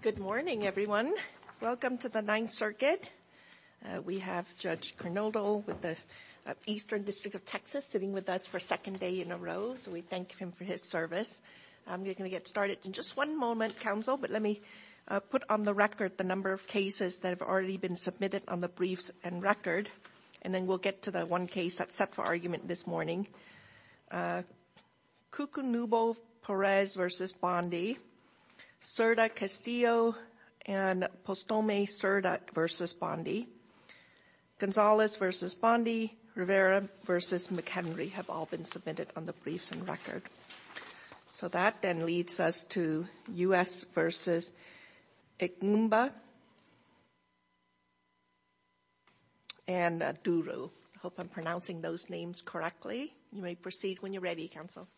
Good morning, everyone. Welcome to the Ninth Circuit. We have Judge Granado with the Eastern District of Texas sitting with us for a second day in a row, so we thank him for his service. I'm going to get started in just one moment, counsel, but let me put on the record the number of cases that have already been submitted on the briefs and record, and then we'll get to the one Perez v. Bondi, Cerda-Castillo and Postome-Cerda v. Bondi, Gonzalez v. Bondi, Rivera v. McHenry have all been submitted on the briefs and record. So that then leads us to U.S. v. Egwumba and Duro. I hope I'm pronouncing those names correctly. You may proceed when you're ready, counsel.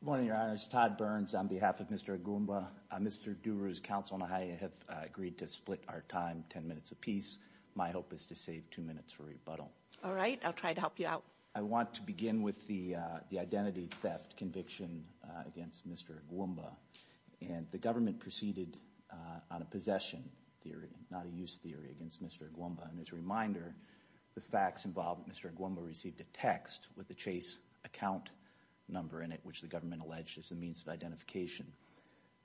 Good morning, Your Honor. It's Todd Burns on behalf of Mr. Egwumba. Mr. Duro's counsel and I have agreed to split our time ten minutes apiece. My hope is to save two minutes for rebuttal. All right. I'll try to help you out. I want to begin with the identity theft conviction against Mr. Egwumba, and the government proceeded on a possession theory, not a use theory, against Mr. Egwumba, and as a reminder, the facts involve Mr. Egwumba received a text with the Chase account number in it, which the government alleged is the means of identification.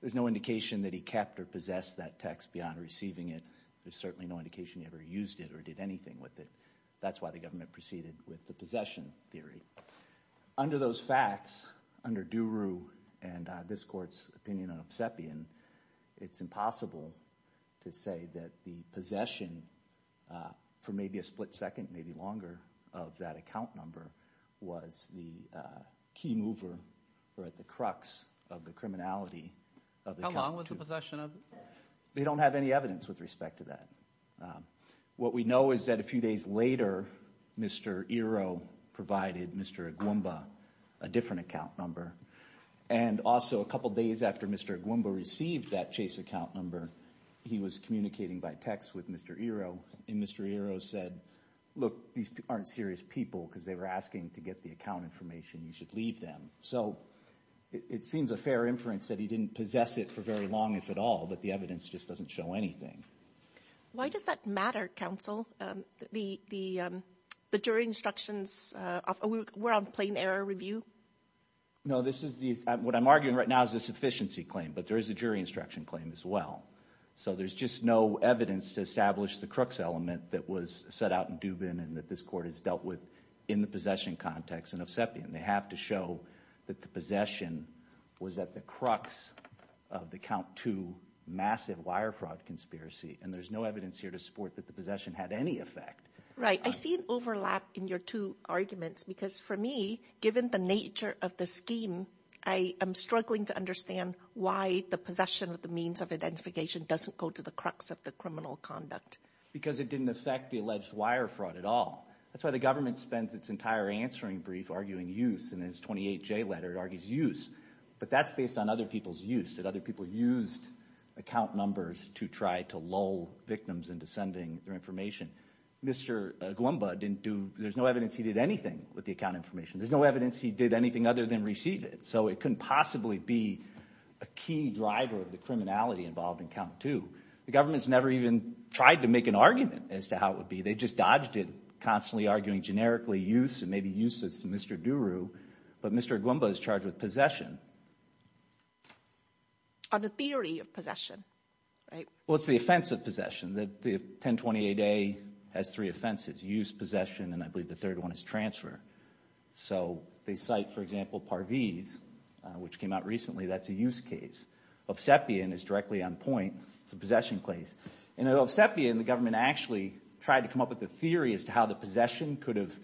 There's no indication that he kept or possessed that text beyond receiving it. There's certainly no indication he ever used it or did anything with it. That's why the government proceeded with the possession theory. Under those facts, under Duro and this court's opinion of Sepien, it's impossible to say that the possession for maybe a split second, maybe longer, of that account number was the key mover or at the crux of the criminality. How long was the possession of it? They don't have any evidence with respect to that. What we know is that a few days later, Mr. Ero provided Mr. Egwumba a different account number, and also a couple days after Mr. Egwumba received that Chase account number, he was communicating by text with Mr. Ero, and Mr. Ero said, look, these aren't serious people because they were asking to get the account information. You should leave them. So it seems a fair inference that he didn't possess it for very long, if at all, but the evidence just doesn't show anything. Why does that matter, counsel? The jury instructions, we're on plain error review? No, this is the, what I'm arguing right now is a sufficiency claim, but there is a jury instruction claim as well. So there's just no evidence to establish the crux element that was set out in Dubin and that this court has dealt with in the possession context in Ofsepian. They have to show that the possession was at the crux of the count two massive wire fraud conspiracy, and there's no evidence here to support that the possession had any effect. Right. I see an overlap in your two arguments because for me, given the nature of the scheme, I am struggling to understand why the possession of the means of identification doesn't go to the crux of the criminal conduct. Because it didn't affect the alleged wire fraud at all. That's why the government spends its entire answering brief arguing use in its 28J letter. It argues use, but that's based on other people's use, that other people used account numbers to try to lull victims into sending their information. Mr. Gwumba didn't do, there's no evidence he did anything with the account information. There's no evidence he did anything other than receive it. So it couldn't possibly be a key driver of the criminality involved in count two. The government's never even tried to make an argument as to how it would be. They just dodged it, constantly arguing generically use and maybe uses to Mr. Duru, but Mr. Gwumba is charged with possession. On the theory of possession, right? Well, it's the offense of possession. The 1028A has three offenses, use, possession, and I believe the third one is transfer. So they cite, for example, Parviz, which came out recently, that's a use case. Obsepian is directly on point, it's a possession case. In Obsepian, the government actually tried to come up with a theory as to how the possession could have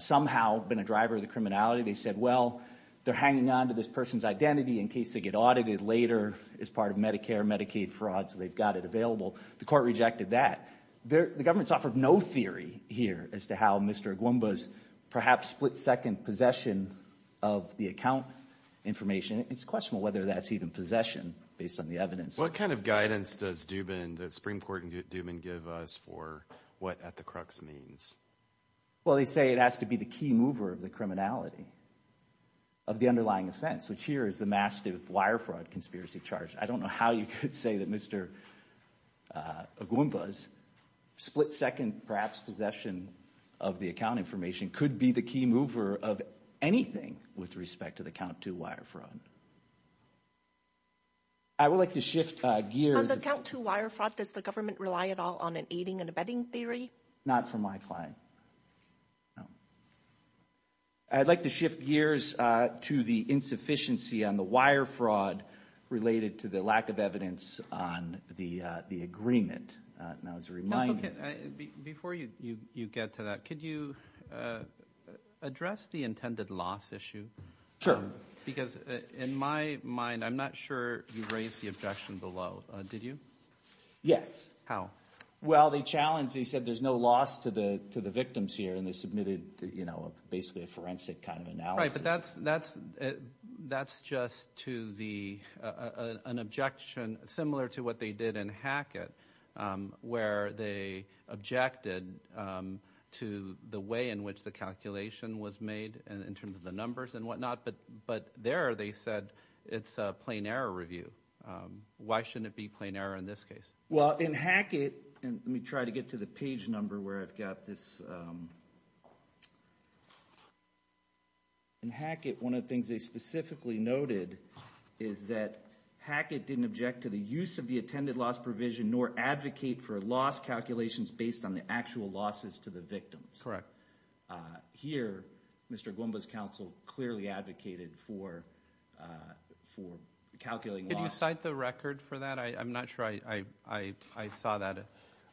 somehow been a driver of the criminality. They said, well, they're hanging on to this person's identity in case they get audited later as part of Medicare, Medicaid fraud, so they've got it available. The court rejected that. The government's offered no theory here as to how Mr. Gwumba's perhaps split-second possession of the account information. It's questionable whether that's even possession based on the evidence. What kind of guidance does the Supreme Court in Dubin give us for what at the crux means? Well, they say it has to be the key mover of the criminality of the underlying offense, which here is the Mastiff wire fraud conspiracy charge. I don't think Mr. Gwumba's split-second perhaps possession of the account information could be the key mover of anything with respect to the count two wire fraud. I would like to shift gears... On the count two wire fraud, does the government rely at all on an aiding and abetting theory? Not from my client, no. I'd like to shift gears to the insufficiency on the wire fraud related to the lack of evidence on the agreement. Before you get to that, could you address the intended loss issue? Sure. Because in my mind, I'm not sure you raised the objection below. Did you? Yes. How? Well, they challenged, they said there's no loss to the victims here, and they submitted basically a forensic kind of analysis. Right, but that's just an objection similar to what they did in Hackett, where they objected to the way in which the calculation was made in terms of the numbers and whatnot. But there they said it's a plain error review. Why shouldn't it be plain error in this case? Well, in Hackett, and let me try to get to the number where I've got this... In Hackett, one of the things they specifically noted is that Hackett didn't object to the use of the attended loss provision nor advocate for loss calculations based on the actual losses to the victims. Correct. Here, Mr. Gwumba's counsel clearly advocated for calculating loss. Can you cite the record for that? I'm not sure I saw that.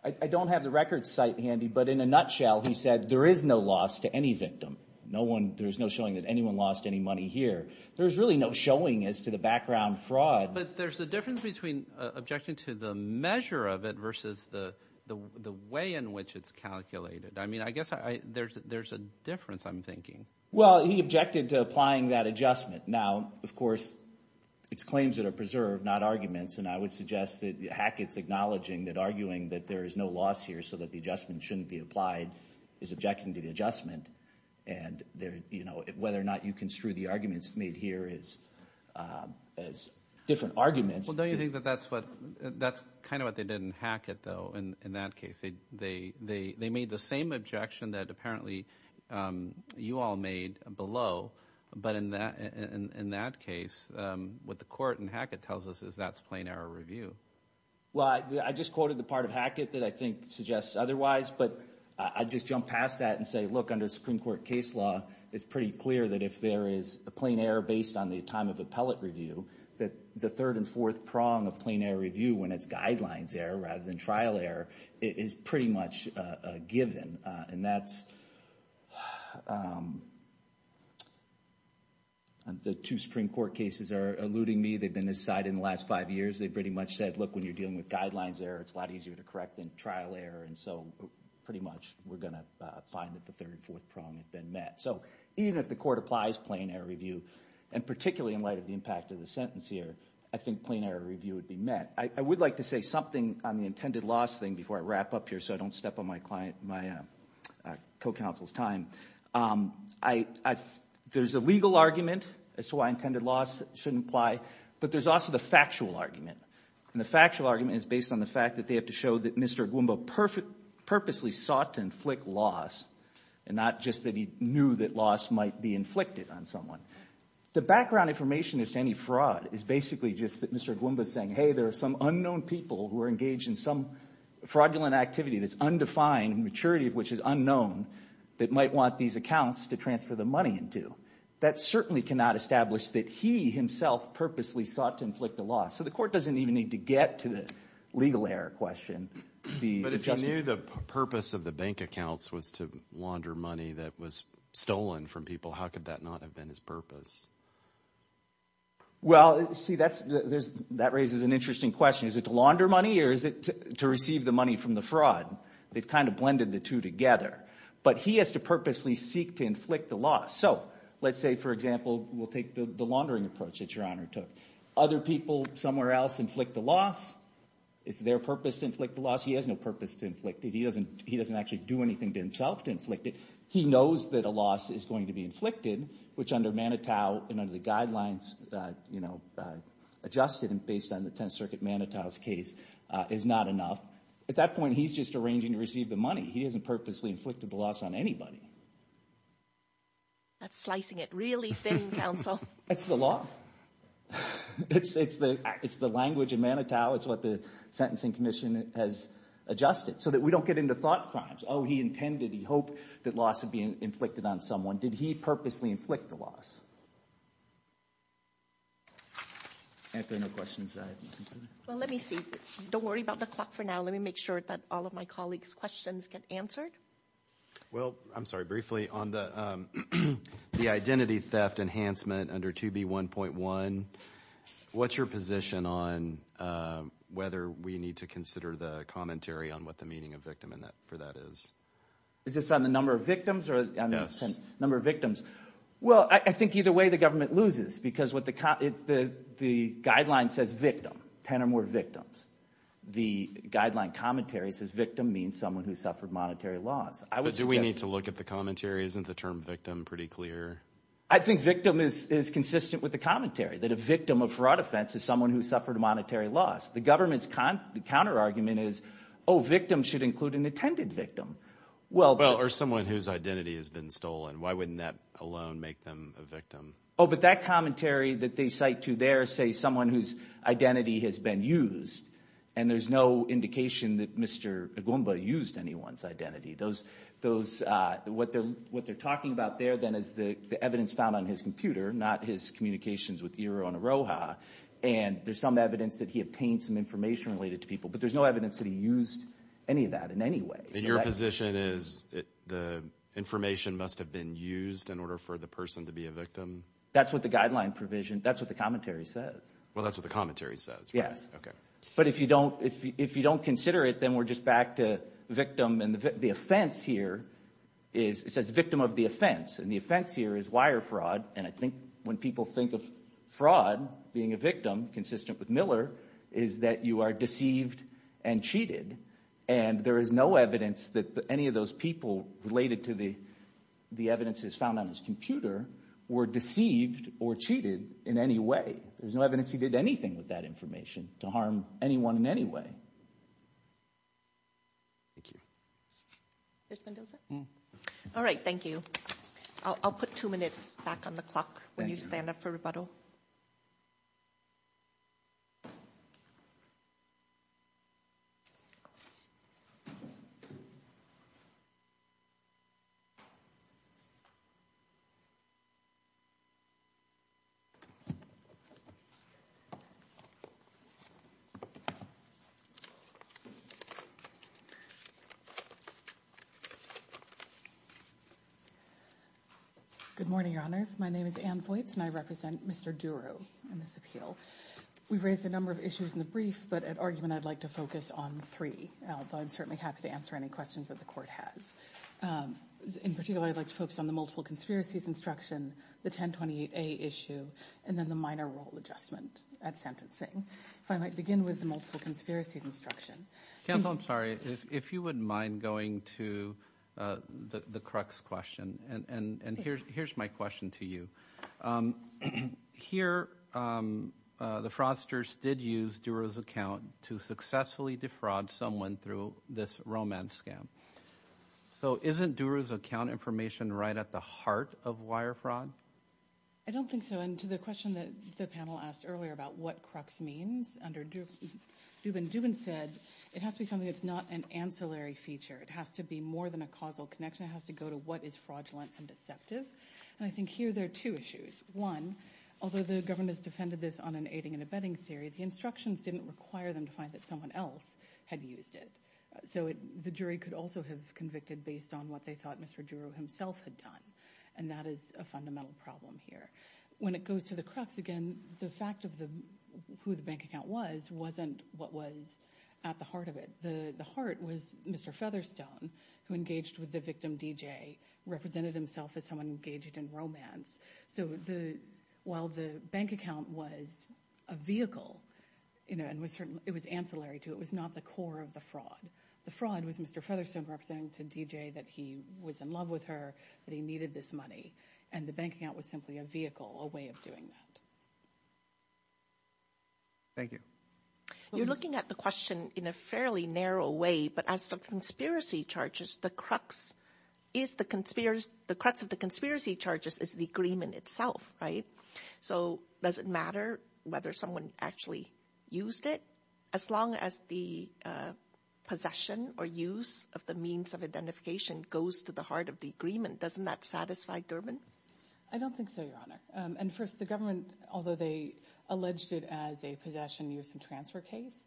I don't have the record cite handy, but in a nutshell, he said there is no loss to any victim. There's no showing that anyone lost any money here. There's really no showing as to the background fraud. But there's a difference between objecting to the measure of it versus the way in which it's calculated. I mean, I guess there's a difference, I'm thinking. Well, he objected to applying that adjustment. Now, of course, it's claims that are preserved, not arguments. And I would suggest that Hackett's acknowledging that arguing that there is no loss here so that the adjustment shouldn't be applied is objecting to the adjustment. And whether or not you construe the arguments made here as different arguments... Well, don't you think that that's kind of what they did in Hackett, though, in that case? They made the same objection that, apparently, you all made below. But in that case, what the court in Hackett tells us is that's plain error review. Well, I just quoted the part of Hackett that I think suggests otherwise, but I'd just jump past that and say, look, under Supreme Court case law, it's pretty clear that if there is a plain error based on the time of appellate review, that the third and fourth prong of plain error review, when it's guidelines error rather than trial error, is pretty much given. And that's... The two Supreme Court cases are eluding me. They've been decided in the last five years. They pretty much said, look, when you're dealing with guidelines error, it's a lot easier to correct than trial error. And so pretty much we're going to find that the third and fourth prong have been met. So even if the court applies plain error review, and particularly in light of the impact of the sentence here, I think plain error review would be met. I would like to say something on the intended loss thing before I wrap up here so I don't step on my client, my co-counsel's time. There's a legal argument as to why intended loss shouldn't apply, but there's also the factual argument. And the factual argument is based on the fact that they have to show that Mr. Ogwumbo purposely sought to inflict loss, and not just that he knew that loss might be inflicted on someone. The background information as to any fraud is basically just that Mr. Ogwumbo is saying, hey, there are some unknown people who are engaged in some fraudulent activity that's undefined, maturity of which is unknown, that might want these accounts to transfer the money into. That certainly cannot establish that he himself purposely sought to inflict the loss. So the court doesn't even need to get to the legal error question. But if he knew the purpose of the bank accounts was to launder money that was stolen from people, how could that not have been his purpose? Well, see, that raises an interesting question. Is it to launder money or is it to receive the money from the fraud? They've kind of blended the two together. But he has to purposely seek to inflict the loss. So let's say, for example, we'll take the laundering approach that Your Honor took. Other people somewhere else inflict the loss. It's their purpose to inflict the loss. He has no purpose to inflict it. He doesn't actually do anything to himself to inflict it. He knows that loss is going to be inflicted, which under Manitou and under the guidelines, you know, adjusted and based on the Tenth Circuit Manitou's case is not enough. At that point, he's just arranging to receive the money. He hasn't purposely inflicted the loss on anybody. That's slicing it really thin, counsel. It's the law. It's the language in Manitou. It's what the Sentencing Commission has adjusted so we don't get into thought crimes. Oh, he intended, he hoped that loss would be inflicted on someone. Did he purposely inflict the loss? And if there are no questions, I have nothing further. Well, let me see. Don't worry about the clock for now. Let me make sure that all of my colleagues' questions get answered. Well, I'm sorry. Briefly, on the identity theft enhancement under 2B1.1, what's your position on whether we need to consider the commentary on what the meaning of victim for that is? Is this on the number of victims? Yes. Number of victims. Well, I think either way the government loses because what the guideline says victim, 10 or more victims. The guideline commentary says victim means someone who suffered monetary loss. Do we need to look at the commentary? Isn't the term victim pretty clear? I think victim is consistent with the commentary that a victim of fraud offense is someone who suffered monetary loss. The government's counterargument is, oh, victim should include an intended victim. Well, or someone whose identity has been stolen. Why wouldn't that alone make them a victim? Oh, but that commentary that they cite to there say someone whose identity has been used, and there's no indication that Mr. Agumba used anyone's identity. What they're talking about there then is the evidence found on his computer, not his communications with ERO and AROHA, and there's some evidence that he obtained some information related to people, but there's no evidence that he used any of that in any way. And your position is the information must have been used in order for the person to be a victim? That's what the guideline provision, that's what the commentary says. Well, that's what the commentary says, right? Okay. But if you don't consider it, then we're just back to victim, and the offense here is, it says victim of the offense, and the offense here is wire fraud, and I think when people think of fraud, being a victim, consistent with Miller, is that you are deceived and cheated, and there is no evidence that any of those people related to the evidence that's found on his computer were deceived or cheated in any way. There's no evidence he did anything with that information to harm anyone in any way. Thank you. Judge Mendoza? Mm-hmm. All right, thank you. I'll put two minutes back on the clock when you stand up for rebuttal. Good morning, Your Honors. My name is Ann Voights, and I represent Mr. Duro in this appeal. We've raised a number of issues in the brief, but at argument, I'd like to focus on three, although I'm certainly happy to answer any questions that the Court has. In particular, I'd like to focus on the multiple conspiracies instruction, the 1028A issue, and then the minor role adjustment at sentencing. If I might begin with the multiple conspiracies instruction. Counsel, I'm sorry. If you wouldn't mind going to the crux question, and here's my question to you. Here, the fraudsters did use Duro's account to successfully defraud someone through this romance scam, so isn't Duro's account information right at the heart of wire fraud? I don't think so, and to the question that the panel asked earlier about what crux means under Dubin, Dubin said it has to be something that's not an ancillary feature. It has to be more than a causal connection. It has to go to what is fraudulent and deceptive, and I think here there are two issues. One, although the government has defended this on an aiding and abetting theory, the instructions didn't require them to find that someone else had used it, so the jury could also have convicted based on what they thought Mr. Duro himself had done, and that is a fundamental problem here. When it goes to the crux, again, the fact of who the bank account was wasn't what was at the heart of it. The heart was Mr. Featherstone, who engaged with the victim DJ, represented himself as someone engaged in romance, so while the bank account was a vehicle, it was ancillary to it. It was not the core of the fraud. The fraud was Mr. Featherstone representing to DJ that he was in love with her, that he needed this money, and the bank account was simply a vehicle, a way of doing that. Thank you. You're looking at the question in a fairly narrow way, but as for conspiracy charges, the crux of the conspiracy charges is the agreement itself, right? So does it matter whether someone actually used it? As long as the possession or use of the means of identification goes to the heart of the agreement, doesn't that satisfy Durbin? I don't think so, Your Honor. And first, the government, although they alleged it as a possession, use, and transfer case,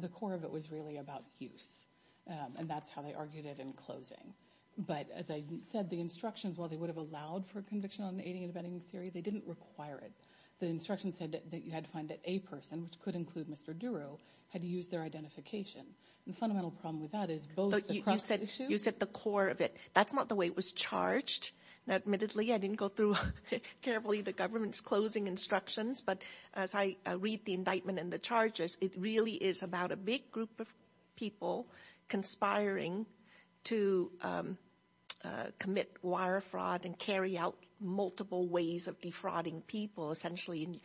the core of it was really about use, and that's how they argued it in closing. But as I said, the instructions, while they would have allowed for conviction on aiding and abetting theory, they didn't require it. The instructions said that you had to find that a person, which could include Mr. Duro, had used their identification. The fundamental problem with that is both the crux of the issue— you said the core of it. That's not the way it was charged. Admittedly, I didn't go through carefully the government's closing instructions, but as I read the indictment and the charges, it really is about a big group of people conspiring to commit wire fraud and carry out multiple ways of defrauding people, essentially.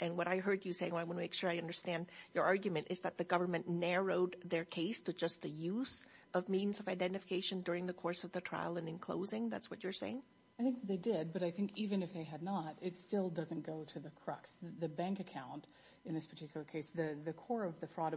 And what I heard you say, and I want to make sure I understand your argument, is that the government narrowed their case to just the use of means of identification during the course of the trial and in closing. That's what you're saying? I think they did, but I think even if they had not, it still doesn't go to the crux. The bank account in this particular case, the core of the fraud,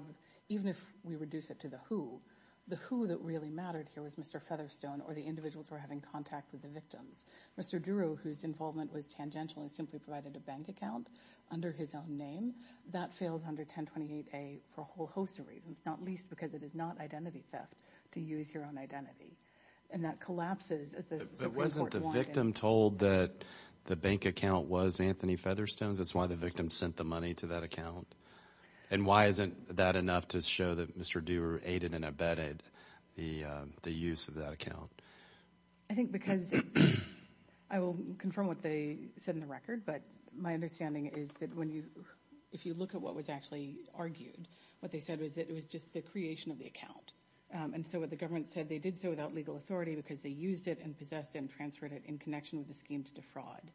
even if we reduce it to the who, the who that really mattered here was Mr. Featherstone or the individuals who were having contact with the victims. Mr. Duro, whose involvement was tangential and simply provided a bank account under his name, that fails under 1028A for a whole host of reasons, not least because it is not identity theft to use your own identity, and that collapses as the Supreme Court wanted. But wasn't the victim told that the bank account was Anthony Featherstone's? That's why the victim sent the money to that account? And why isn't that enough to show that Mr. Duro aided and abetted the use of that account? I think because, I will confirm what they said in the record, but my understanding is if you look at what was actually argued, what they said was that it was just the creation of the account. And so what the government said, they did so without legal authority because they used it and possessed it and transferred it in connection with the scheme to defraud.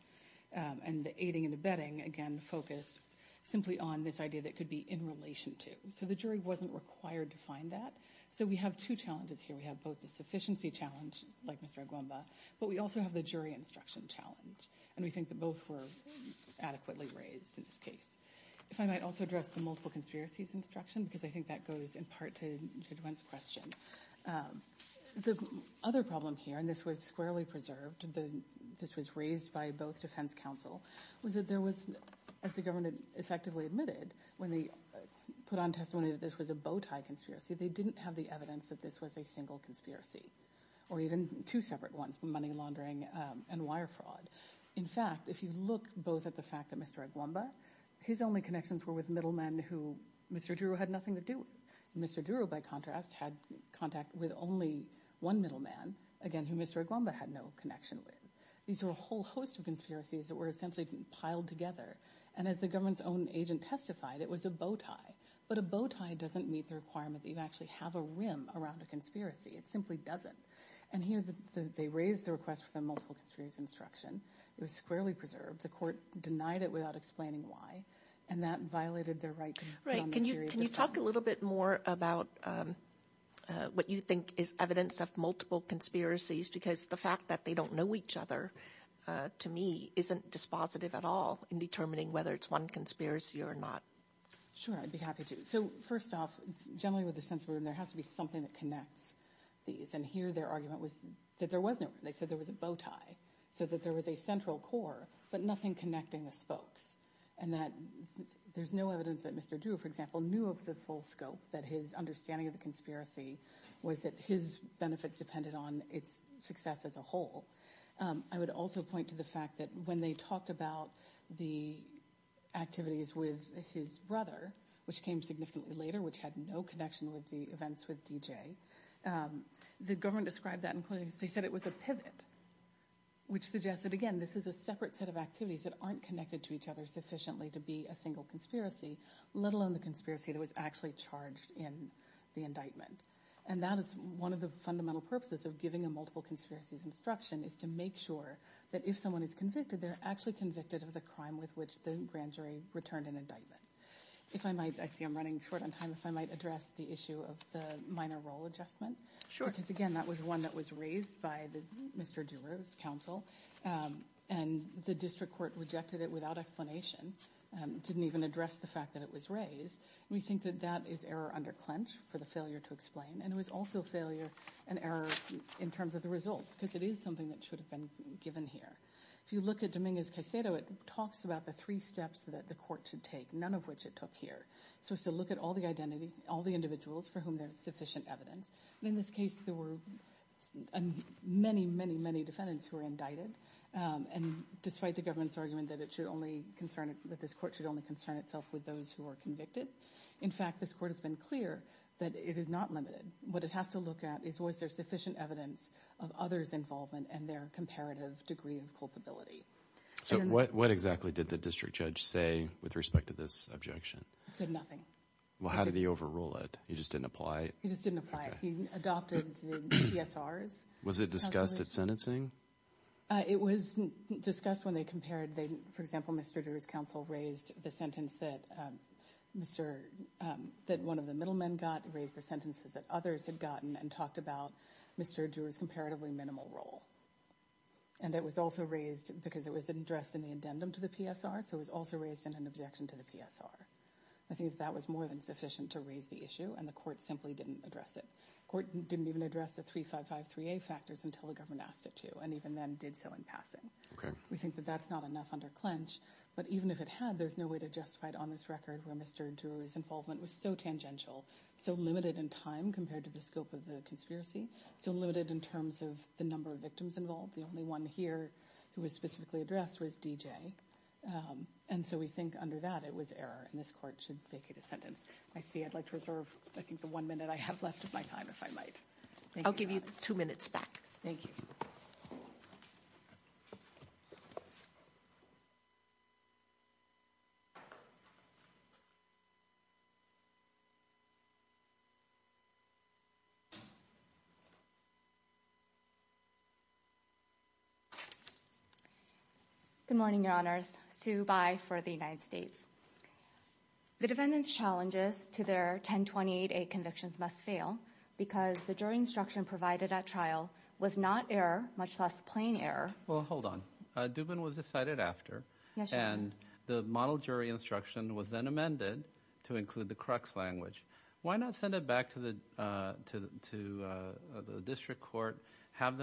And the aiding and abetting, again, focused simply on this idea that it could be in relation to. So the jury wasn't required to find that. So we have two challenges here. We have both the sufficiency challenge, like Mr. Aguamba, but we also have the jury instruction challenge. And we think that both were adequately raised in this case. If I might also address the multiple conspiracies instruction, because I think that goes in part to Judge Wendt's question. The other problem here, and this was squarely preserved, this was raised by both defense counsel, was that there was, as the government effectively admitted, when they put on testimony that this was a bowtie conspiracy, they didn't have the evidence that this was a single conspiracy. Or even two separate ones, money laundering and wire fraud. In fact, if you look both at the fact that Mr. Aguamba, his only connections were with middlemen who Mr. Duro had nothing to do with. Mr. Duro, by contrast, had contact with only one middleman, again, who Mr. Aguamba had no connection with. These were a whole host of conspiracies that were essentially piled together. And as the government's own agent testified, it was a bowtie. But a bowtie doesn't meet the requirement that you actually have a rim around a conspiracy. It simply doesn't. And here they raised the request for the multiple conspiracy instruction. It was squarely preserved. The court denied it without explaining why. And that violated their right to non-interior defense. Right. Can you talk a little bit more about what you think is evidence of multiple conspiracies? Because the fact that they don't know each other, to me, isn't dispositive at all in determining whether it's one conspiracy or not. Sure, I'd be happy to. So first off, generally with the censored, there has to be something that connects these. And here their argument was that there was no. They said there was a bowtie, so that there was a central core, but nothing connecting the spokes. And that there's no evidence that Mr. Duro, for example, knew of the full scope that his understanding of the conspiracy was that his benefits depended on its success as a whole. I would also point to the fact that when they talked about the activities with his brother, which came significantly later, which had no connection with the events with D.J., the government described that and said it was a pivot, which suggested, again, this is a separate set of activities that aren't connected to each other sufficiently to be a single conspiracy, let alone the conspiracy that was actually charged in the indictment. And that is one of the fundamental purposes of giving a multiple conspiracies instruction, is to make sure that if someone is convicted, they're actually convicted of the crime with which the grand jury returned an indictment. If I might, I see I'm running short on time, if I might address the issue of the minor role adjustment. Sure. Because, again, that was one that was raised by the Mr. Duro's counsel, and the district court rejected it without explanation, didn't even address the fact that it was raised. We think that that is error under clench for the failure to explain. And it was also failure and error in terms of the result, because it is something that should have been given here. If you look at Dominguez-Caicedo, it talks about the three steps that the court should take, none of which it took here. It's supposed to look at all the identity, all the individuals for whom there's sufficient evidence. In this case, there were many, many, many defendants who were indicted. And despite the government's argument that it should only concern, that this court should only concern itself with those who are convicted, in fact, this court has been clear that it is not limited. What it has to look at is was there sufficient evidence of others' involvement and their comparative degree of culpability. So what exactly did the district judge say with respect to this objection? He said nothing. Well, how did he overrule it? He just didn't apply it? He just didn't apply it. He adopted the PSRs. Was it discussed at sentencing? It was discussed when they compared. For example, Mr. Dewar's counsel raised the sentence that one of the middlemen got, raised the sentences that others had gotten, and talked about Mr. Dewar's comparatively minimal role. And it was also raised because it was addressed in the addendum to the PSR, so it was also raised in an objection to the PSR. I think that was more than sufficient to raise the issue, and the court simply didn't address it. Court didn't even address the 3553A factors until the government asked it to, and even then did so in passing. We think that that's not enough under clench. But even if it had, there's no way to justify it on this record where Mr. Dewar's involvement was so tangential, so limited in time compared to the scope of the conspiracy, so limited in terms of the number of victims involved. The only one here who was specifically addressed was DJ. And so we think under that, it was error, and this court should vacate his sentence. I see. I'd like to reserve, I think, the one minute I have left of my time, if I might. I'll give you two minutes back. Thank you. Good morning, Your Honors. Sue Bai for the United States. The defendant's challenges to their 1028A convictions must fail because the jury instruction provided at trial was not error, much less plain error. Well, hold on. Dubin was decided after, and the model jury instruction was then amended to include the crux language. Why not send it back to the district court, have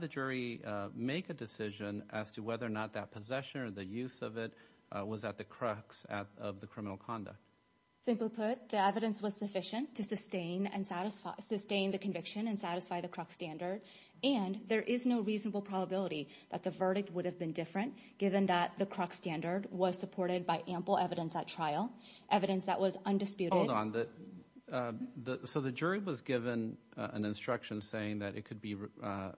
the jury make a decision as to whether or not that possession or the use of it was at the crux of the criminal conduct? Simply put, the evidence was sufficient to sustain the conviction and satisfy the crux standard, and there is no reasonable probability that the verdict would have been different given that the crux standard was supported by ample evidence at trial, evidence that was undisputed. Hold on. So the jury was given an instruction saying that it could be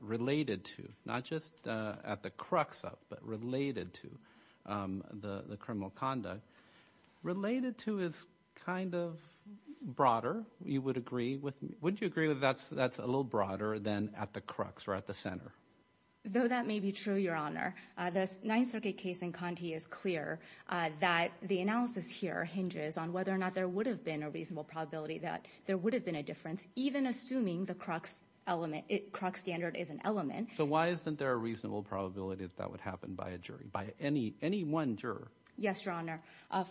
related to, not just at the crux of, but related to the criminal conduct. Related to is kind of broader, you would agree with me. Wouldn't you agree that that's a little broader than at the crux or at the center? Though that may be true, Your Honor, the Ninth Circuit case in Conte is clear that the analysis here hinges on whether or not there would have been a reasonable probability that there would have been a difference, even assuming the crux standard is an element. So why isn't there a reasonable probability that that would happen by a jury, by any one juror? Yes, Your Honor.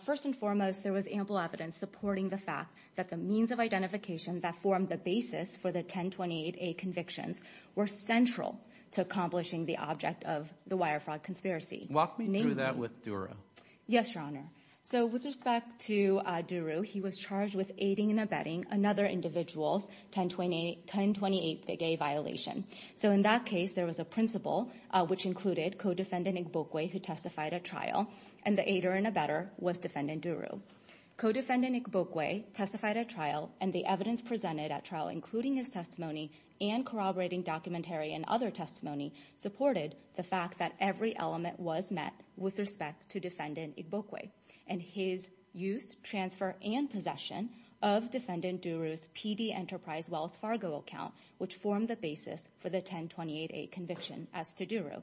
First and foremost, there was ample evidence supporting the fact that the means of identification that formed the basis for the 1028A convictions were central to accomplishing the object of the wire fraud conspiracy. Walk me through that with Dura. Yes, Your Honor. So with respect to Duru, he was charged with aiding and abetting another individual's 1028A violation. So in that case, there was a principal, which included co-defendant Igbokwe, who testified at trial, and the aider and abetter was defendant Duru. Co-defendant Igbokwe testified at trial, and the evidence presented at trial, including his testimony and corroborating documentary and other testimony, supported the fact that every element was met with respect to defendant Igbokwe and his use, transfer, and possession of defendant Duru's PD Enterprise Wells Fargo account, which formed the basis for the 1028A conviction as to Duru.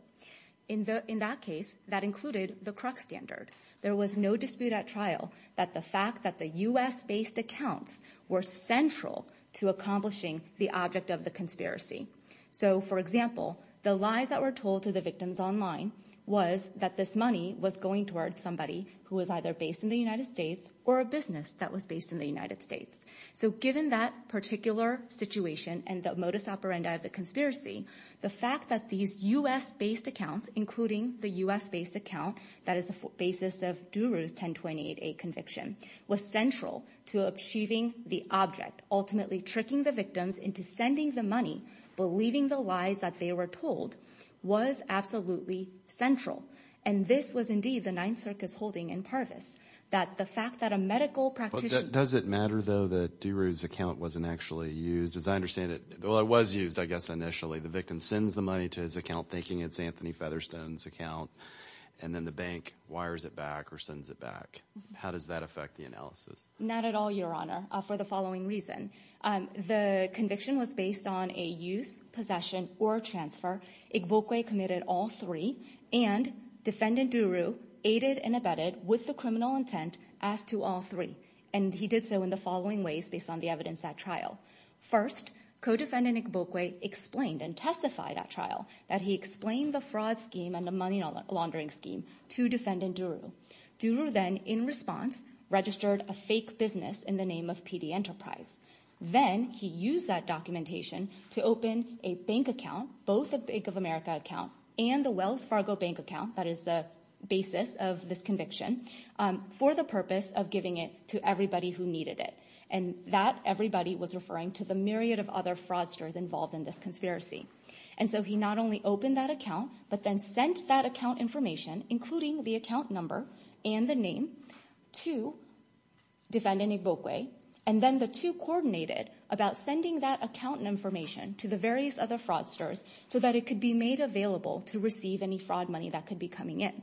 In that case, that included the crux standard. There was no dispute at trial that the fact that the U.S.-based accounts were central to accomplishing the object of the conspiracy. So, for example, the lies that were told to the victims online was that this money was going towards somebody who was either based in the United States or a business that was based in the United States. So given that particular situation and the modus operandi of the conspiracy, the fact that these U.S.-based accounts, including the U.S.-based account that is the basis of Duru's 1028A conviction, was central to achieving the object, ultimately tricking the victims into sending the money, believing the lies that they were told, was absolutely central. And this was indeed the Ninth Circus holding in Parvis. That the fact that a medical practitioner... Does it matter, though, that Duru's account wasn't actually used? As I understand it, well, it was used, I guess, initially. The victim sends the money to his account thinking it's Anthony Featherstone's account, and then the bank wires it back or sends it back. How does that affect the analysis? Not at all, Your Honor, for the following reason. The conviction was based on a use, possession, or transfer. Igbokwe committed all three, and Defendant Duru aided and abetted with the criminal intent as to all three. And he did so in the following ways based on the evidence at trial. First, Codefendant Igbokwe explained and testified at trial that he explained the fraud scheme and the money laundering scheme to Defendant Duru. Duru then, in response, registered a fake business in the name of PD Enterprise. Then he used that documentation to open a bank account, both a Bank of America account and the Wells Fargo bank account, that is the basis of this conviction, for the purpose of giving it to everybody who needed it. And that everybody was referring to the myriad of other fraudsters involved in this conspiracy. And so he not only opened that account, but then sent that account information, including the account number and the name, to Defendant Igbokwe. And then the two coordinated about sending that account information to the various other fraudsters so that it could be made available to receive any fraud money that could be coming in.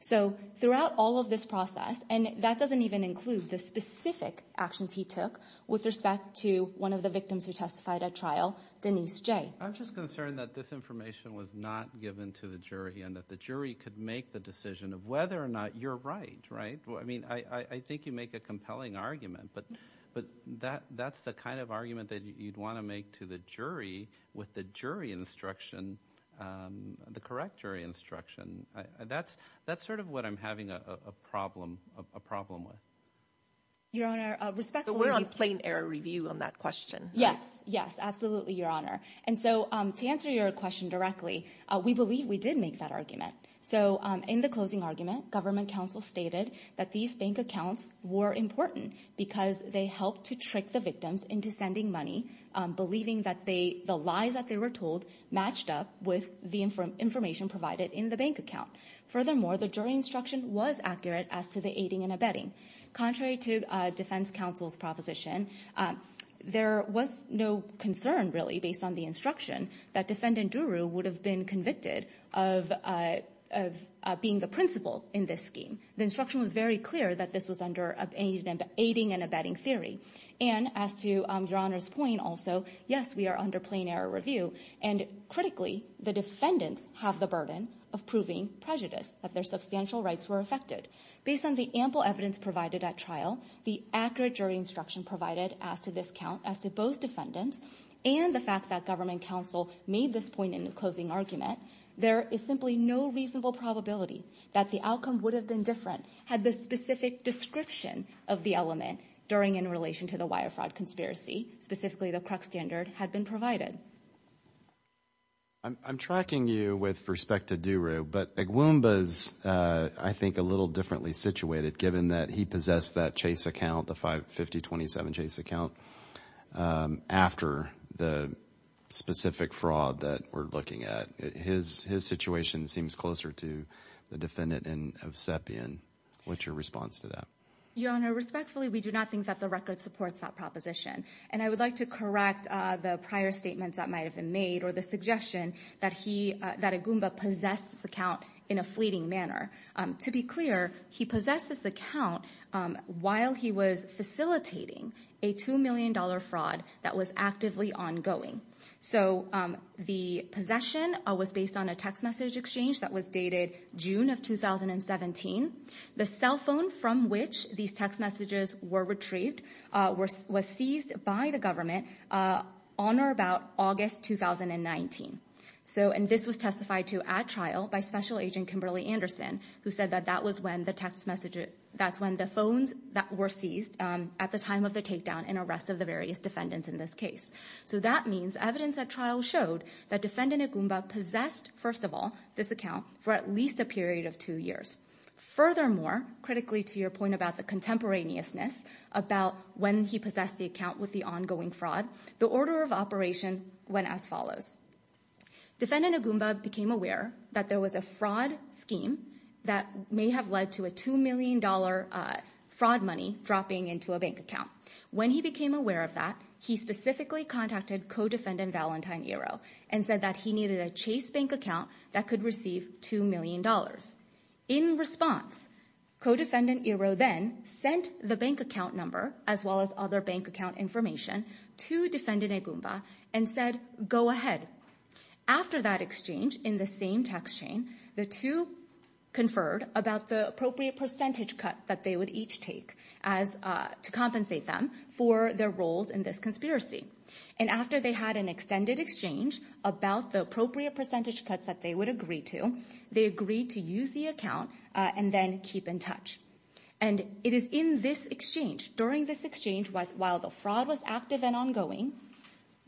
So throughout all of this process, and that doesn't even include the specific actions he took with respect to one of the victims who testified at trial, Denise J. I'm just concerned that this information was not given to the jury, and that the jury could make the decision of whether or not you're right, right? I mean, I think you make a compelling argument, but that's the kind of argument that you'd want to make to the jury with the jury instruction, the correct jury instruction. That's sort of what I'm having a problem with. Your Honor, respectfully... But we're on plain air review on that question, right? Yes, yes, absolutely, Your Honor. And so to answer your question directly, we believe we did make that argument. So in the closing argument, government counsel stated that these bank accounts were important because they helped to trick the victims into sending money, believing that the lies that they were told matched up with the information provided in the bank account. Furthermore, the jury instruction was accurate as to the aiding and abetting. Contrary to defense counsel's proposition, there was no concern, really, based on the instruction that defendant Duru would have been convicted of being the principal in this scheme. The instruction was very clear that this was under aiding and abetting theory. And as to Your Honor's point also, yes, we are under plain air review. And critically, the defendants have the burden of proving prejudice, that their substantial rights were affected. Based on the ample evidence provided at trial, the accurate jury instruction provided as to both defendants and the fact that government counsel made this point in the closing argument, there is simply no reasonable probability that the outcome would have been different had the specific description of the element during and in relation to the wire fraud conspiracy, specifically the Kruk standard, had been provided. I'm tracking you with respect to Duru, but Agwumba is, I think, a little differently situated, given that he possessed that Chase account, the 5027 Chase account, after the specific fraud that we're looking at. His situation seems closer to the defendant of Sepian. What's your response to that? Your Honor, respectfully, we do not think that the record supports that proposition. And I would like to correct the prior statements that might have been made, or the suggestion that Agwumba possessed this account in a fleeting manner. To be clear, he possessed this account while he was facilitating a $2 million fraud that was actively ongoing. So the possession was based on a text message exchange that was dated June of 2017. The cell phone from which these text messages were retrieved was seized by the government on or about August 2019. And this was testified to at trial by Special Agent Kimberly Anderson, who said that that's when the phones were seized at the time of the takedown and arrest of the various defendants in this case. So that means evidence at trial showed that defendant Agwumba possessed, first of all, this account for at least a period of two years. Furthermore, critically to your point about the contemporaneousness about when he possessed the account with the ongoing fraud, the order of operation went as follows. Defendant Agwumba became aware that there was a fraud scheme that may have led to a $2 million fraud money dropping into a bank account. When he became aware of that, he specifically contacted co-defendant Valentine Iroh and said that he needed a Chase bank account that could receive $2 million. In response, co-defendant Iroh then sent the bank account number, as well as other bank information, to defendant Agwumba and said, go ahead. After that exchange, in the same text chain, the two conferred about the appropriate percentage cut that they would each take to compensate them for their roles in this conspiracy. And after they had an extended exchange about the appropriate percentage cuts that they would agree to, they agreed to use the account and then keep in touch. And it is in this exchange, during this exchange, while the fraud was active and ongoing,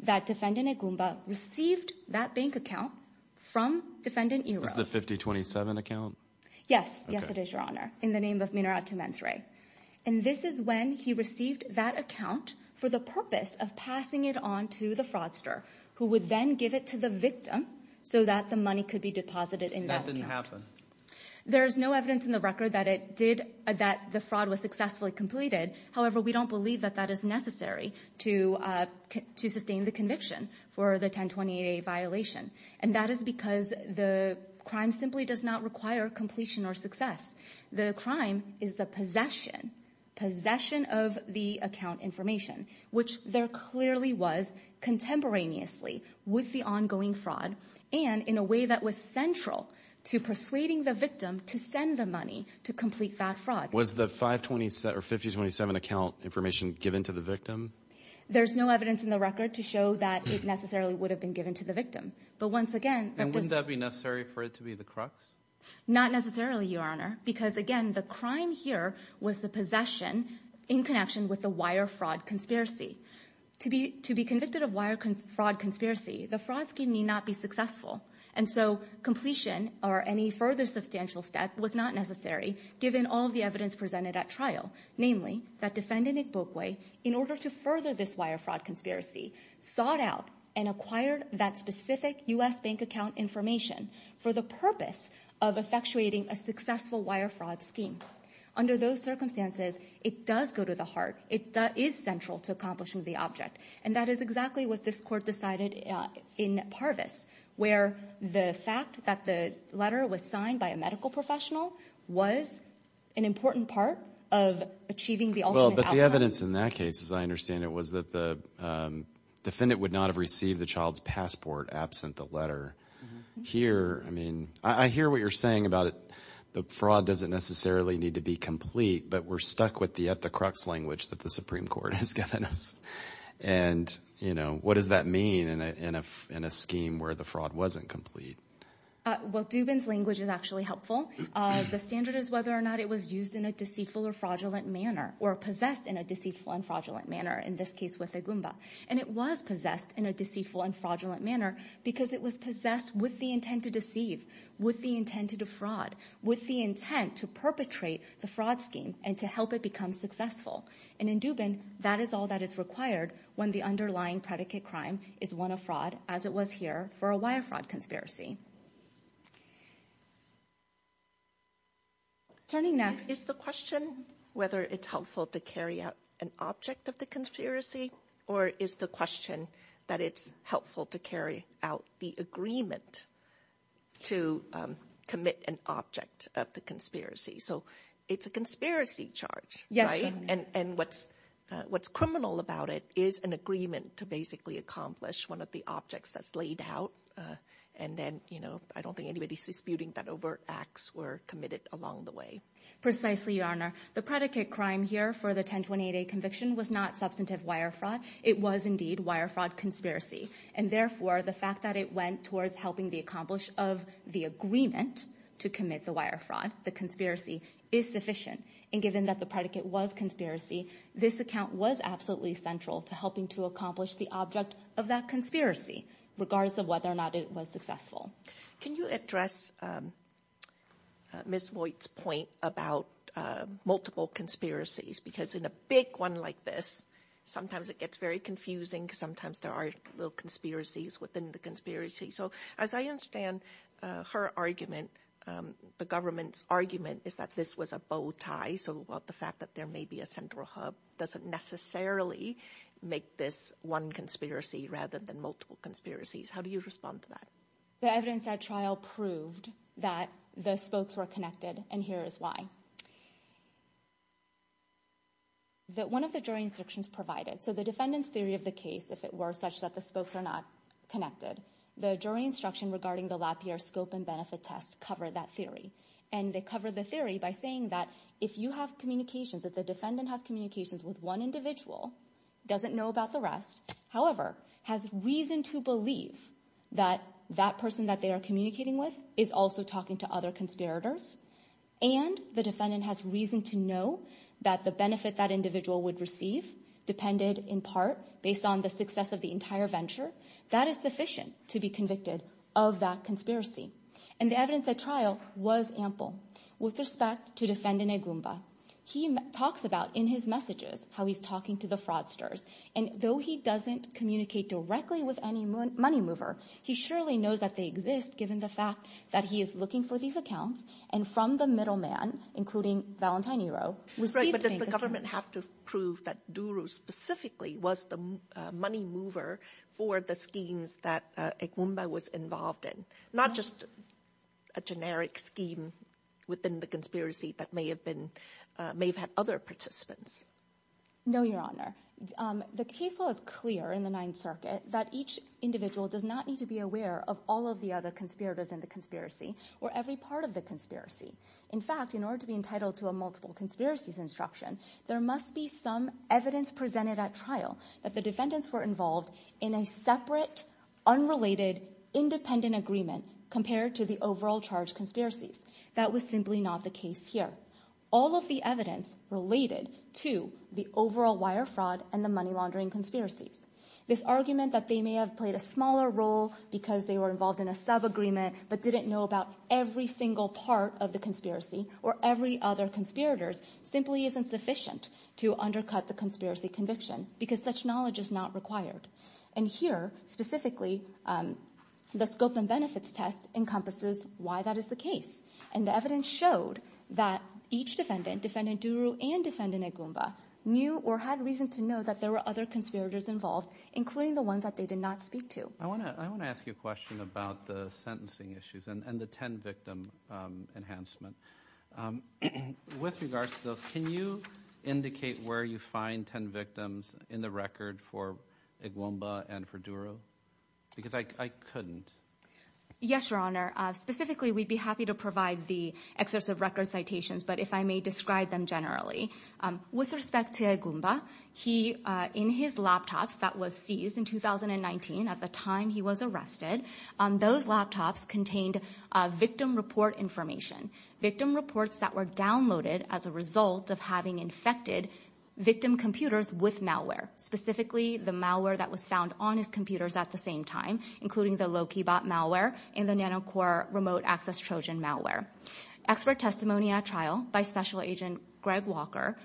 that defendant Agwumba received that bank account from defendant Iroh. This is the 5027 account? Yes. Yes, it is, Your Honor, in the name of Minerat Tumentre. And this is when he received that account for the purpose of passing it on to the fraudster, who would then give it to the victim so that the money could be deposited in that account. That didn't happen? There is no evidence in the record that it did, that the fraud was successfully completed. However, we don't believe that that is necessary to sustain the conviction for the 1028A violation. And that is because the crime simply does not require completion or success. The crime is the possession, possession of the account information, which there clearly was contemporaneously with the ongoing fraud and in a way that was central to persuading the victim to send the money to complete that fraud. Was the 527 or 5027 account information given to the victim? There's no evidence in the record to show that it necessarily would have been given to the victim. But once again... And would that be necessary for it to be the crux? Not necessarily, Your Honor. Because again, the crime here was the possession in connection with the wire fraud conspiracy. To be convicted of wire fraud conspiracy, the fraud scheme may not be successful. And so completion or any further substantial step was not necessary, given all the evidence presented at trial. Namely, that defendant, Nick Boakway, in order to further this wire fraud conspiracy, sought out and acquired that specific U.S. bank account information for the purpose of effectuating a successful wire fraud scheme. Under those circumstances, it does go to the heart. It is central to accomplishing the object. And that is exactly what this court decided in Parvis, where the fact that the letter was signed by a medical professional was an important part of achieving the ultimate outcome. But the evidence in that case, as I understand it, was that the defendant would not have received the child's passport absent the letter. Here, I mean, I hear what you're saying about it. The fraud doesn't necessarily need to be complete, but we're stuck with the at-the-crux language that the Supreme Court has given us. And, you know, what does that mean in a scheme where the fraud wasn't complete? Well, Dubin's language is actually helpful. The standard is whether or not it was used in a deceitful or fraudulent manner, or possessed in a deceitful and fraudulent manner, in this case with a Goomba. And it was possessed in a deceitful and fraudulent manner because it was possessed with the intent to deceive, with the intent to defraud, with the intent to perpetrate the fraud scheme and to help it become successful. And in Dubin, that is all that is required when the underlying predicate crime is one of fraud, as it was here for a wire fraud conspiracy. Turning next... Is the question whether it's helpful to carry out an object of the conspiracy, or is the question that it's helpful to carry out the agreement to commit an object of the conspiracy? So it's a conspiracy charge, right? Yes, Your Honor. And what's criminal about it is an agreement to basically accomplish one of the objects that's laid out. And then, you know, I don't think anybody's disputing that overt acts were committed along the way. Precisely, Your Honor. The predicate crime here for the 1028A conviction was not substantive wire fraud. It was indeed wire fraud conspiracy. And therefore, the fact that it went towards helping the accomplish of the agreement to commit the wire fraud, the conspiracy, is sufficient. And given that the predicate was conspiracy, this account was absolutely central to helping to accomplish the object of that conspiracy, regardless of whether or not it was successful. Can you address Ms. Voigt's point about multiple conspiracies? Because in a big one like this, sometimes it gets very confusing. Sometimes there are little conspiracies within the conspiracy. So as I understand her argument, the government's argument is that this was a bow tie. So the fact that there may be a central hub doesn't necessarily make this one conspiracy rather than multiple conspiracies. How do you respond to that? The evidence at trial proved that the spokes were connected. And here is why. That one of the jury instructions provided. So the defendant's theory of the case, if it were such that the spokes are not connected, the jury instruction regarding the Lapierre scope and benefit test covered that theory. And they covered the theory by saying that if you have communications, if the defendant has communications with one individual, doesn't know about the rest, however, has reason to believe that that person that they are communicating with is also talking to other conspirators, and the defendant has reason to know that the benefit that individual would receive depended in part based on the success of the entire venture. That is sufficient to be convicted of that conspiracy. And the evidence at trial was ample. With respect to defendant Agumba, he talks about in his messages how he's talking to the fraudsters. And though he doesn't communicate directly with any money mover, he surely knows that they exist, given the fact that he is looking for these accounts. And from the middleman, including Valentine Iroh. But does the government have to prove that Duro specifically was the money mover for the schemes that Agumba was involved in? Not just a generic scheme within the conspiracy that may have been, may have had other participants. No, Your Honor. The case law is clear in the Ninth Circuit that each individual does not need to be aware of all of the other conspirators in the conspiracy or every part of the conspiracy. In fact, in order to be entitled to a multiple conspiracies instruction, there must be some evidence presented at trial that the defendants were involved in a separate, unrelated, independent agreement compared to the overall charge conspiracies. That was simply not the case here. All of the evidence related to the overall wire fraud and the money laundering conspiracies. This argument that they may have played a smaller role because they were involved in a sub-agreement but didn't know about every single part of the conspiracy or every other conspirators simply isn't sufficient to undercut the conspiracy conviction. Because such knowledge is not required. And here, specifically, the scope and benefits test encompasses why that is the case. And the evidence showed that each defendant, defendant Duro and defendant Agumba, knew or had reason to know that there were other conspirators involved, including the ones that they did not speak to. I want to ask you a question about the sentencing issues and the 10 victim enhancement. With regards to those, can you indicate where you find 10 victims in the record for Agumba and for Duro? Because I couldn't. Yes, Your Honor. Specifically, we'd be happy to provide the excerpts of record citations, but if I may describe them generally. With respect to Agumba, he, in his laptops that was seized in 2019, at the time he was arrested, those laptops contained victim report information. Victim reports that were downloaded as a result of having infected victim computers with malware. Specifically, the malware that was found on his computers at the same time, including the low key bot malware and the NanoCore remote access Trojan malware. Expert testimony at trial by Special Agent Greg Walker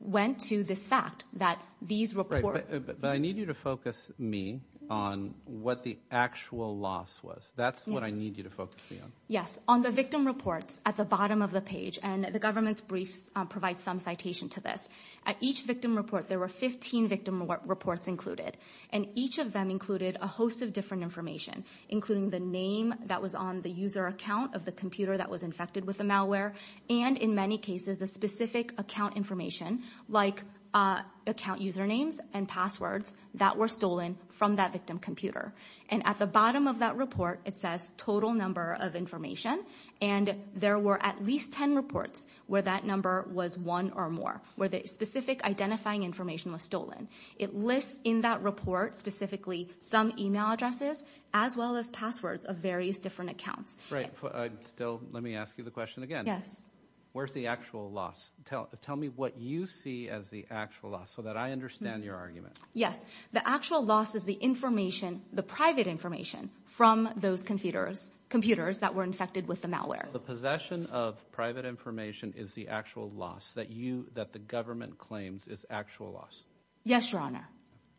went to this fact that these reports. But I need you to focus me on what the actual loss was. That's what I need you to focus me on. Yes. On the victim reports at the bottom of the page, and the government's briefs provide some citation to this. At each victim report, there were 15 victim reports included. And each of them included a host of different information, including the name that was on the user account of the computer that was infected with the malware. And in many cases, the specific account information, like account usernames and passwords that were stolen from that victim computer. And at the bottom of that report, it says total number of information. And there were at least 10 reports where that number was one or more, where the specific identifying information was stolen. It lists in that report, specifically some email addresses, as well as passwords of various different accounts. Right. Still, let me ask you the question again. Yes. Where's the actual loss? Tell me what you see as the actual loss, so that I understand your argument. The actual loss is the information, the private information, from those computers that were infected with the malware. The possession of private information is the actual loss that you, that the government claims is actual loss. Yes, Your Honor.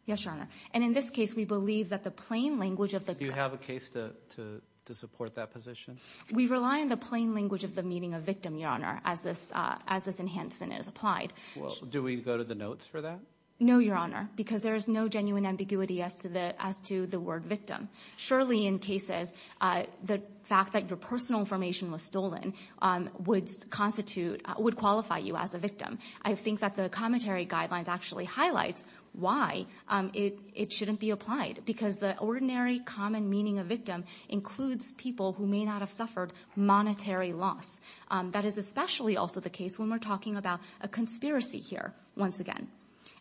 Yes, Your Honor. And in this case, we believe that the plain language of the... Do you have a case to support that position? We rely on the plain language of the meaning of victim, Your Honor, as this enhancement is applied. Well, do we go to the notes for that? No, Your Honor, because there is no genuine ambiguity as to the word victim. Surely, in cases, the fact that your personal information was stolen would constitute, would qualify you as a victim. I think that the commentary guidelines actually highlights why it shouldn't be applied. Because the ordinary common meaning of victim includes people who may not have suffered monetary loss. That is especially also the case when we're talking about a conspiracy here, once again.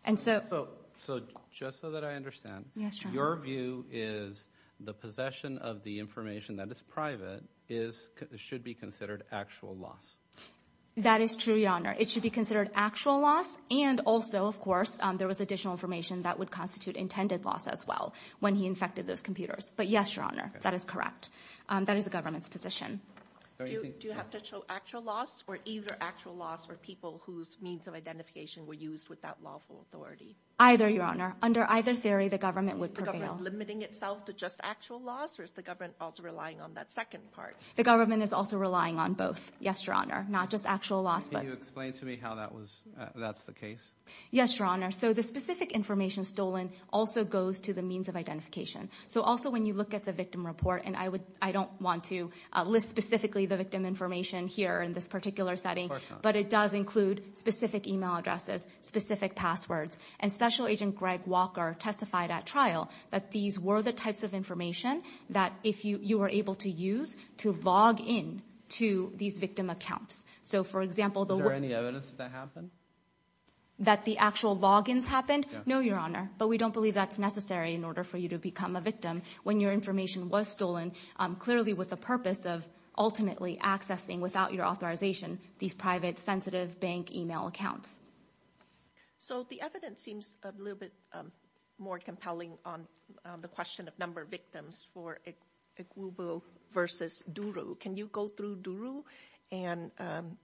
And so... So, just so that I understand... Yes, Your Honor. Your view is the possession of the information that is private should be considered actual loss. That is true, Your Honor. It should be considered actual loss. And also, of course, there was additional information that would constitute intended loss as well when he infected those computers. But yes, Your Honor, that is correct. That is the government's position. Do you have to show actual loss or either actual loss for people whose means of identification were used without lawful authority? Either, Your Honor. Under either theory, the government would prevail. Is the government limiting itself to just actual loss or is the government also relying on that second part? The government is also relying on both. Yes, Your Honor. Not just actual loss, but... Can you explain to me how that's the case? Yes, Your Honor. So, the specific information stolen also goes to the means of identification. So, also, when you look at the victim report, I don't want to list specifically the victim information here in this particular setting, but it does include specific email addresses, specific passwords. And Special Agent Greg Walker testified at trial that these were the types of information that you were able to use to log in to these victim accounts. So, for example... Is there any evidence that that happened? That the actual logins happened? No, Your Honor. But we don't believe that's necessary in order for you to become a victim when your information was stolen, clearly with the purpose of ultimately accessing, without your authorization, these private, sensitive bank email accounts. So, the evidence seems a little bit more compelling on the question of number of victims for Igbubu versus Duru. Can you go through Duru and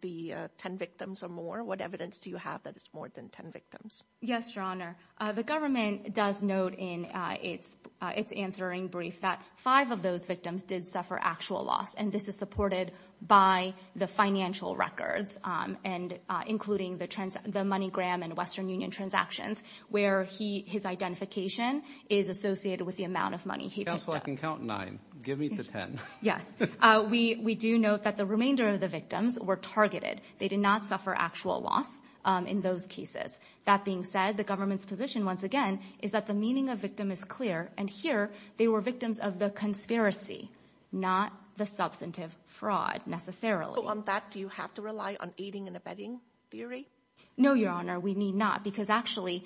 the 10 victims or more? What evidence do you have that it's more than 10 victims? Yes, Your Honor. The government does note in its answering brief that five of those victims did suffer actual loss, and this is supported by the financial records, and including the MoneyGram and Western Union transactions, where his identification is associated with the amount of money he picked up. Counsel, I can count nine. Give me the 10. Yes. We do note that the remainder of the victims were targeted. They did not suffer actual loss in those cases. That being said, the government's position, once again, is that the meaning of victim is clear, and here, they were victims of the conspiracy, not the substantive fraud, necessarily. On that, do you have to rely on aiding and abetting theory? No, Your Honor, we need not, because actually,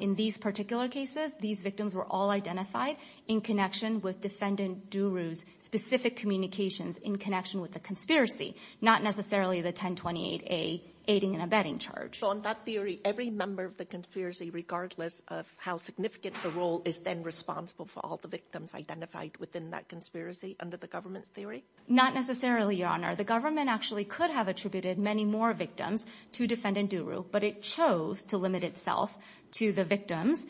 in these particular cases, these victims were all identified in connection with defendant Duru's specific communications in connection with the conspiracy, not necessarily the 1028A aiding and abetting charge. On that theory, every member of the conspiracy, regardless of how significant the role, is then responsible for all the victims identified within that conspiracy under the government's theory? Not necessarily, Your Honor. The government actually could have attributed many more victims to defendant Duru, but it chose to limit itself to the victims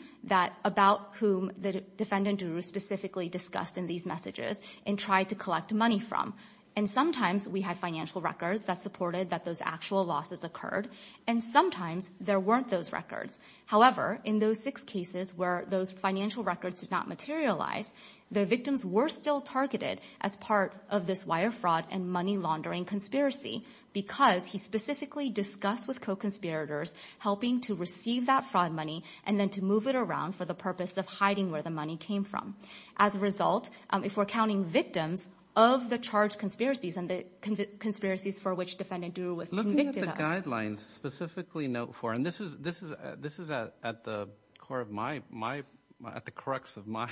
about whom the defendant Duru specifically discussed in these messages and tried to collect money from, and sometimes, we had financial records that supported that those actual losses occurred, and sometimes, there weren't those records. However, in those six cases where those financial records did not materialize, the victims were still targeted as part of this wire fraud and money laundering conspiracy because he specifically discussed with co-conspirators helping to receive that fraud money and then to move it around for the purpose of hiding where the money came from. As a result, if we're counting victims of the charged conspiracies and the conspiracies for which defendant Duru was convicted of. Guidelines specifically note for, and this is at the core of my, at the crux of my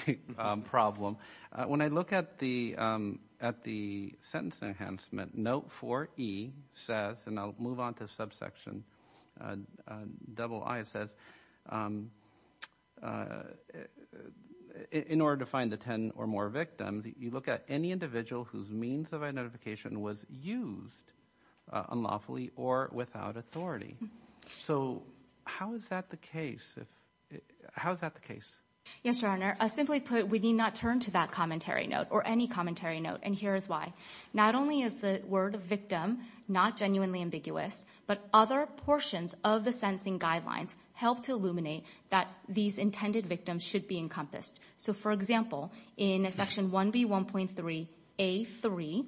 problem. When I look at the sentence enhancement, note for E says, and I'll move on to subsection, double I says, in order to find the 10 or more victims, you look at any individual whose means of identification was used unlawfully or without authority. So how is that the case? How is that the case? Yes, Your Honor. I simply put, we need not turn to that commentary note or any commentary note, and here is why. Not only is the word victim not genuinely ambiguous, but other portions of the sentencing guidelines help to illuminate that these intended victims should be encompassed. So for example, in section 1B1.3A3,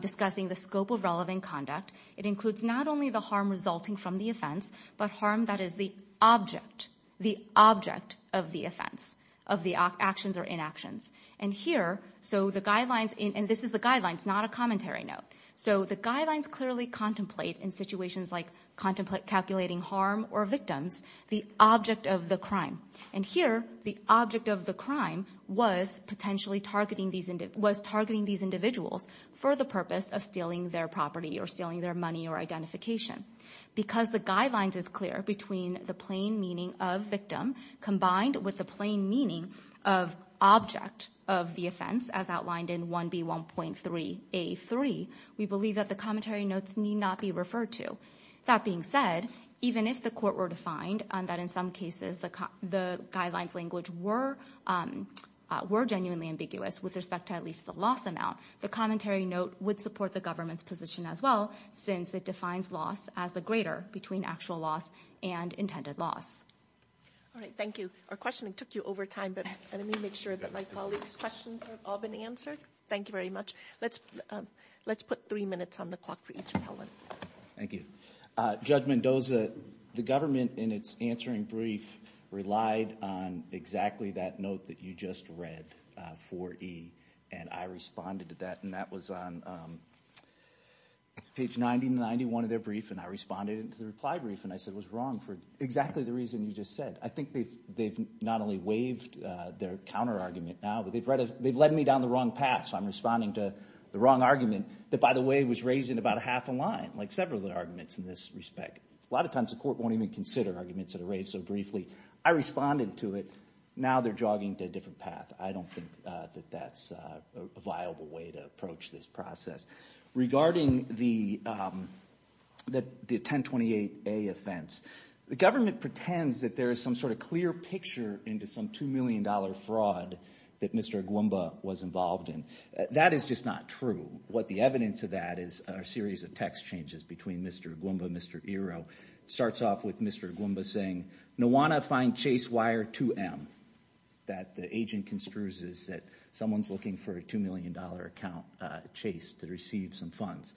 discussing the scope of relevant conduct, it includes not only the harm resulting from the offense, but harm that is the object, the object of the offense, of the actions or inactions. And here, so the guidelines, and this is the guidelines, not a commentary note. So the guidelines clearly contemplate in situations like contemplate calculating harm or victims, the object of the crime. And here, the object of the crime was potentially targeting these, was targeting these individuals for the purpose of stealing their property or stealing their money or identification. Because the guidelines is clear between the plain meaning of victim combined with the plain meaning of object of the offense as outlined in 1B1.3A3, we believe that the commentary notes need not be referred to. That being said, even if the court were to find that in some cases the guidelines language were genuinely ambiguous with respect to at least the loss amount, the commentary note would support the government's position as well, since it defines loss as the greater between actual loss and intended loss. All right, thank you. Our questioning took you over time, but let me make sure that my colleagues' questions have all been answered. Thank you very much. Let's put three minutes on the clock for each appellant. Thank you. Judge Mendoza, the government in its answering brief relied on exactly that note that you just read, 4E, and I responded to that. And that was on page 90 and 91 of their brief, and I responded to the reply brief, and I said it was wrong for exactly the reason you just said. I think they've not only waived their counter-argument now, but they've led me down the wrong path. So I'm responding to the wrong argument that, by the way, was raised in about a half a line, like several of the arguments in this respect. A lot of times the court won't even consider arguments that are raised so briefly. I responded to it. Now they're jogging to a different path. I don't think that that's a viable way to approach this process. Regarding the 1028A offense, the government pretends that there is some sort of clear picture into some $2 million fraud that Mr. Agwemba was involved in. That is just not true. What the evidence of that is a series of text changes between Mr. Agwemba and Mr. Iroh. It starts off with Mr. Agwemba saying, Nuwana find chase wire 2M. That the agent construes is that someone's looking for a $2 million account chase to receive some funds.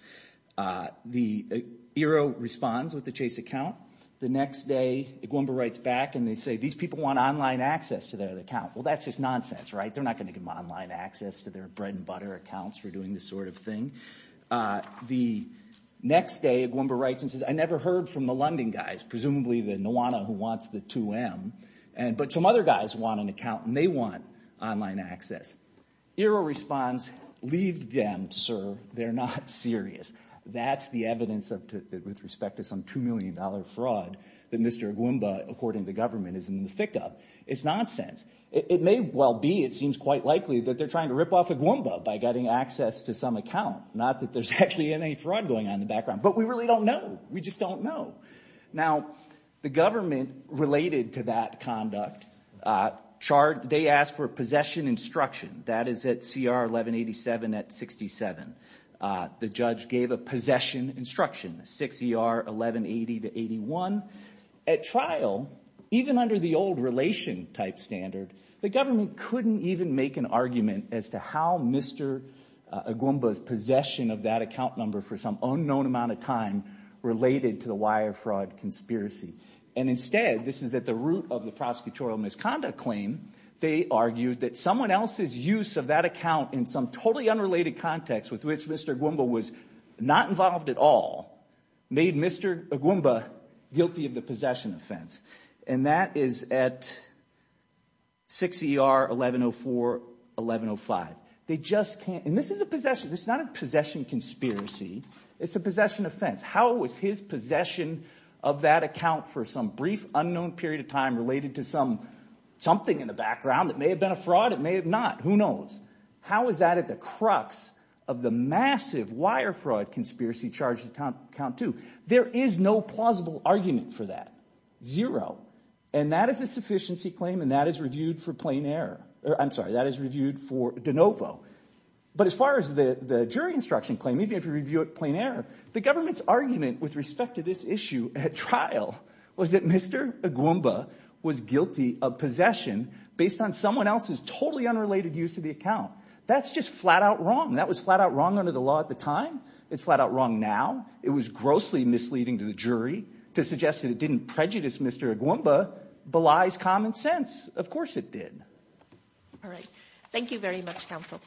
The Iroh responds with the chase account. The next day, Agwemba writes back and they say, these people want online access to their account. Well, that's just nonsense, right? They're not going to give them online access to their bread and butter accounts for doing this sort of thing. The next day, Agwemba writes and says, I never heard from the London guys, presumably the Nuwana who wants the 2M. But some other guys want an account and they want online access. Iroh responds, leave them, sir. They're not serious. That's the evidence with respect to some $2 million fraud that Mr. Agwemba, according to the government, is in the thick of. It's nonsense. It may well be, it seems quite likely, that they're trying to rip off Agwemba by getting access to some account. Not that there's actually any fraud going on in the background. But we really don't know. We just don't know. Now, the government related to that conduct. They asked for possession instruction. That is at CR 1187 at 67. The judge gave a possession instruction, 6ER 1180 to 81. At trial, even under the old relation type standard, the government couldn't even make an argument as to how Mr. Agwemba's possession of that account number for some unknown amount of time related to the wire fraud conspiracy. And instead, this is at the root of the prosecutorial misconduct claim, they argued that someone else's use of that account in some totally unrelated context with which Mr. Agwemba was not involved at all, made Mr. Agwemba guilty of the possession offense. And that is at 6ER 1104, 1105. They just can't. And this is a possession. This is not a possession conspiracy. It's a possession offense. How was his possession of that account for some brief unknown period of time related to something in the background that may have been a fraud, it may have not, who knows? How is that at the crux of the massive wire fraud conspiracy charged account two? There is no plausible argument for that, zero. And that is a sufficiency claim and that is reviewed for plain error. I'm sorry, that is reviewed for de novo. But as far as the jury instruction claim, even if you review it plain error, the government's argument with respect to this issue at trial was that Mr. Agwemba was guilty of possession based on someone else's totally unrelated use of the account. That's just flat out wrong. That was flat out wrong under the law at the time. It's flat out wrong now. It was grossly misleading to the jury to suggest that it didn't prejudice Mr. Agwemba belies common sense. Of course it did. All right. Thank you very much, counsel.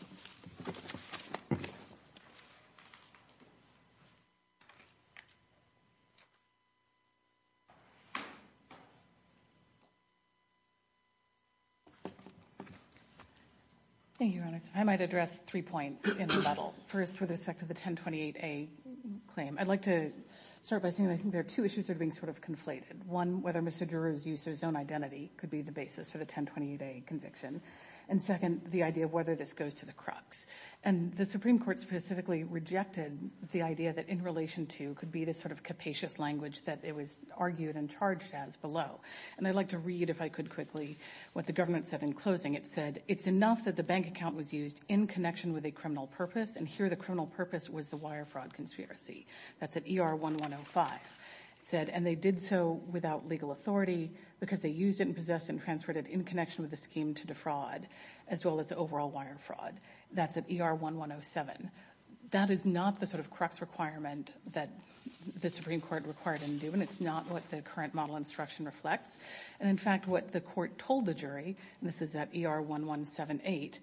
Thank you, Your Honor. I might address three points in the battle. First, with respect to the 1028A claim. I'd like to start by saying I think there are two issues that are being sort of conflated. One, whether Mr. Giroux's use of his own identity could be the basis for the 1028A conviction. And second, the idea of whether this goes to the crux. And the Supreme Court specifically rejected the idea that in relation to could be this sort of capacious language that it was argued and charged as below. And I'd like to read if I could quickly what the government said in closing. It said, it's enough that the bank account was used in connection with a criminal purpose. And here the criminal purpose was the wire fraud conspiracy. That's at ER-1105. It said, and they did so without legal authority because they used it and possessed and transferred it in connection with the scheme to defraud as well as overall wire fraud. That's at ER-1107. That is not the sort of crux requirement that the Supreme Court required and do. And it's not what the current model instruction reflects. And in fact, what the court told the jury, and this is at ER-1178,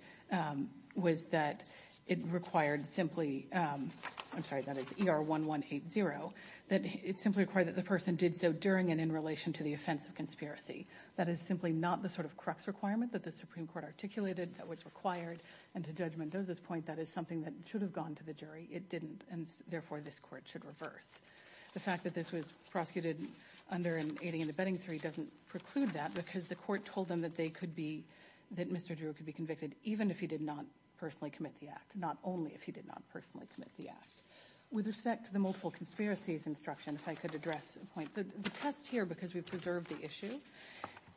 was that it required simply, I'm sorry, that is ER-1180, that it simply required that the person did so during and in relation to the offense of conspiracy. That is simply not the sort of crux requirement that the Supreme Court articulated that was required. And to Judge Mendoza's point, that is something that should have gone to the jury. It didn't, and therefore this court should reverse. The fact that this was prosecuted under an aiding and abetting theory doesn't preclude that because the court told them that they could be, that Mr. Drew could be convicted even if he did not personally commit the act, not only if he did not personally commit the act. With respect to the multiple conspiracies instruction, if I could address a point. The test here, because we've preserved the issue,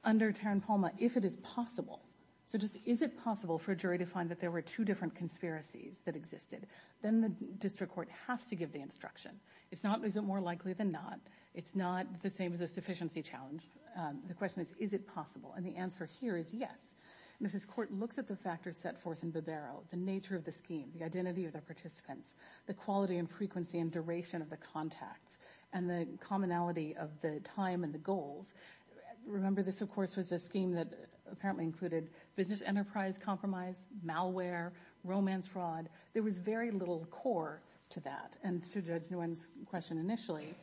under Tarren-Palma, if it is possible, so just is it possible for a jury to find that there were two different conspiracies that existed, then the district court has to give the instruction. It's not, is it more likely than not. It's not the same as a sufficiency challenge. The question is, is it possible? And the answer here is yes. And if this court looks at the factors set forth in Bibero, the nature of the scheme, the identity of the participants, the quality and frequency and duration of the contacts, and the commonality of the time and the goals, remember this of course was a scheme that apparently included business enterprise compromise, malware, romance fraud. There was very little core to that. And to Judge Nguyen's question initially,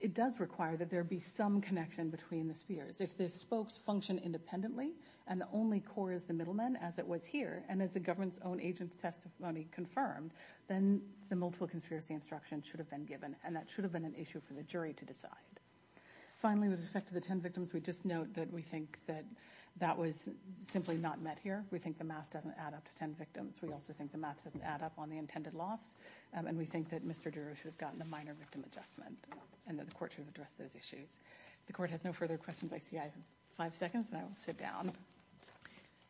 it does require that there be some connection between the spheres. If the spokes function independently, and the only core is the middleman as it was here, and as the government's own agent's testimony confirmed, then the multiple conspiracy instruction should have been given. And that should have been an issue for the jury to decide. Finally, with respect to the 10 victims, we just note that we think that that was simply not met here. We think the math doesn't add up to 10 victims. We also think the math doesn't add up on the intended loss. And we think that Mr. Duro should have gotten a minor victim adjustment, and that the court should address those issues. The court has no further questions. I see I have five seconds, and I will sit down.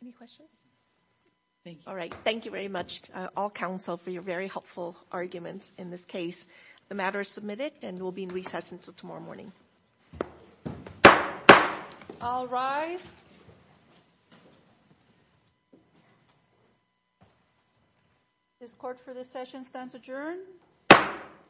Any questions? Thank you. All right. Thank you very much, all counsel, for your very helpful arguments in this case. The matter is submitted, and will be in recess until tomorrow morning. All rise. This court, for this session, stands adjourned.